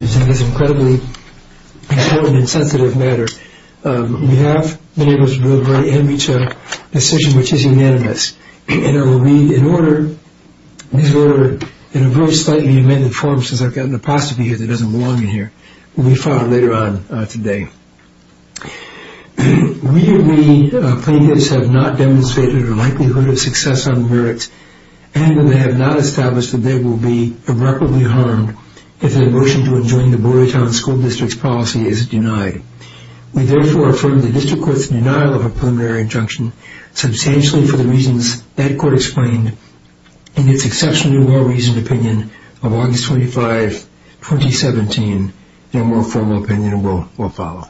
This is an incredibly important and sensitive matter. We have been able to deliver a very ambitious decision, which is unanimous. And I will read these words in a very slightly amended form, since I've got an apostrophe here that doesn't belong in here. We'll be following later on today. We, the plaintiffs, have not demonstrated a likelihood of success on the merits, and we have not established that they will be irreparably harmed if their motion to adjourn the Brewery Town School District's policy is denied. We therefore affirm the District Court's denial of a preliminary injunction substantially for the reasons that Court explained in its exceptionally well-reasoned opinion of August 25, 2017. No more formal opinion will follow.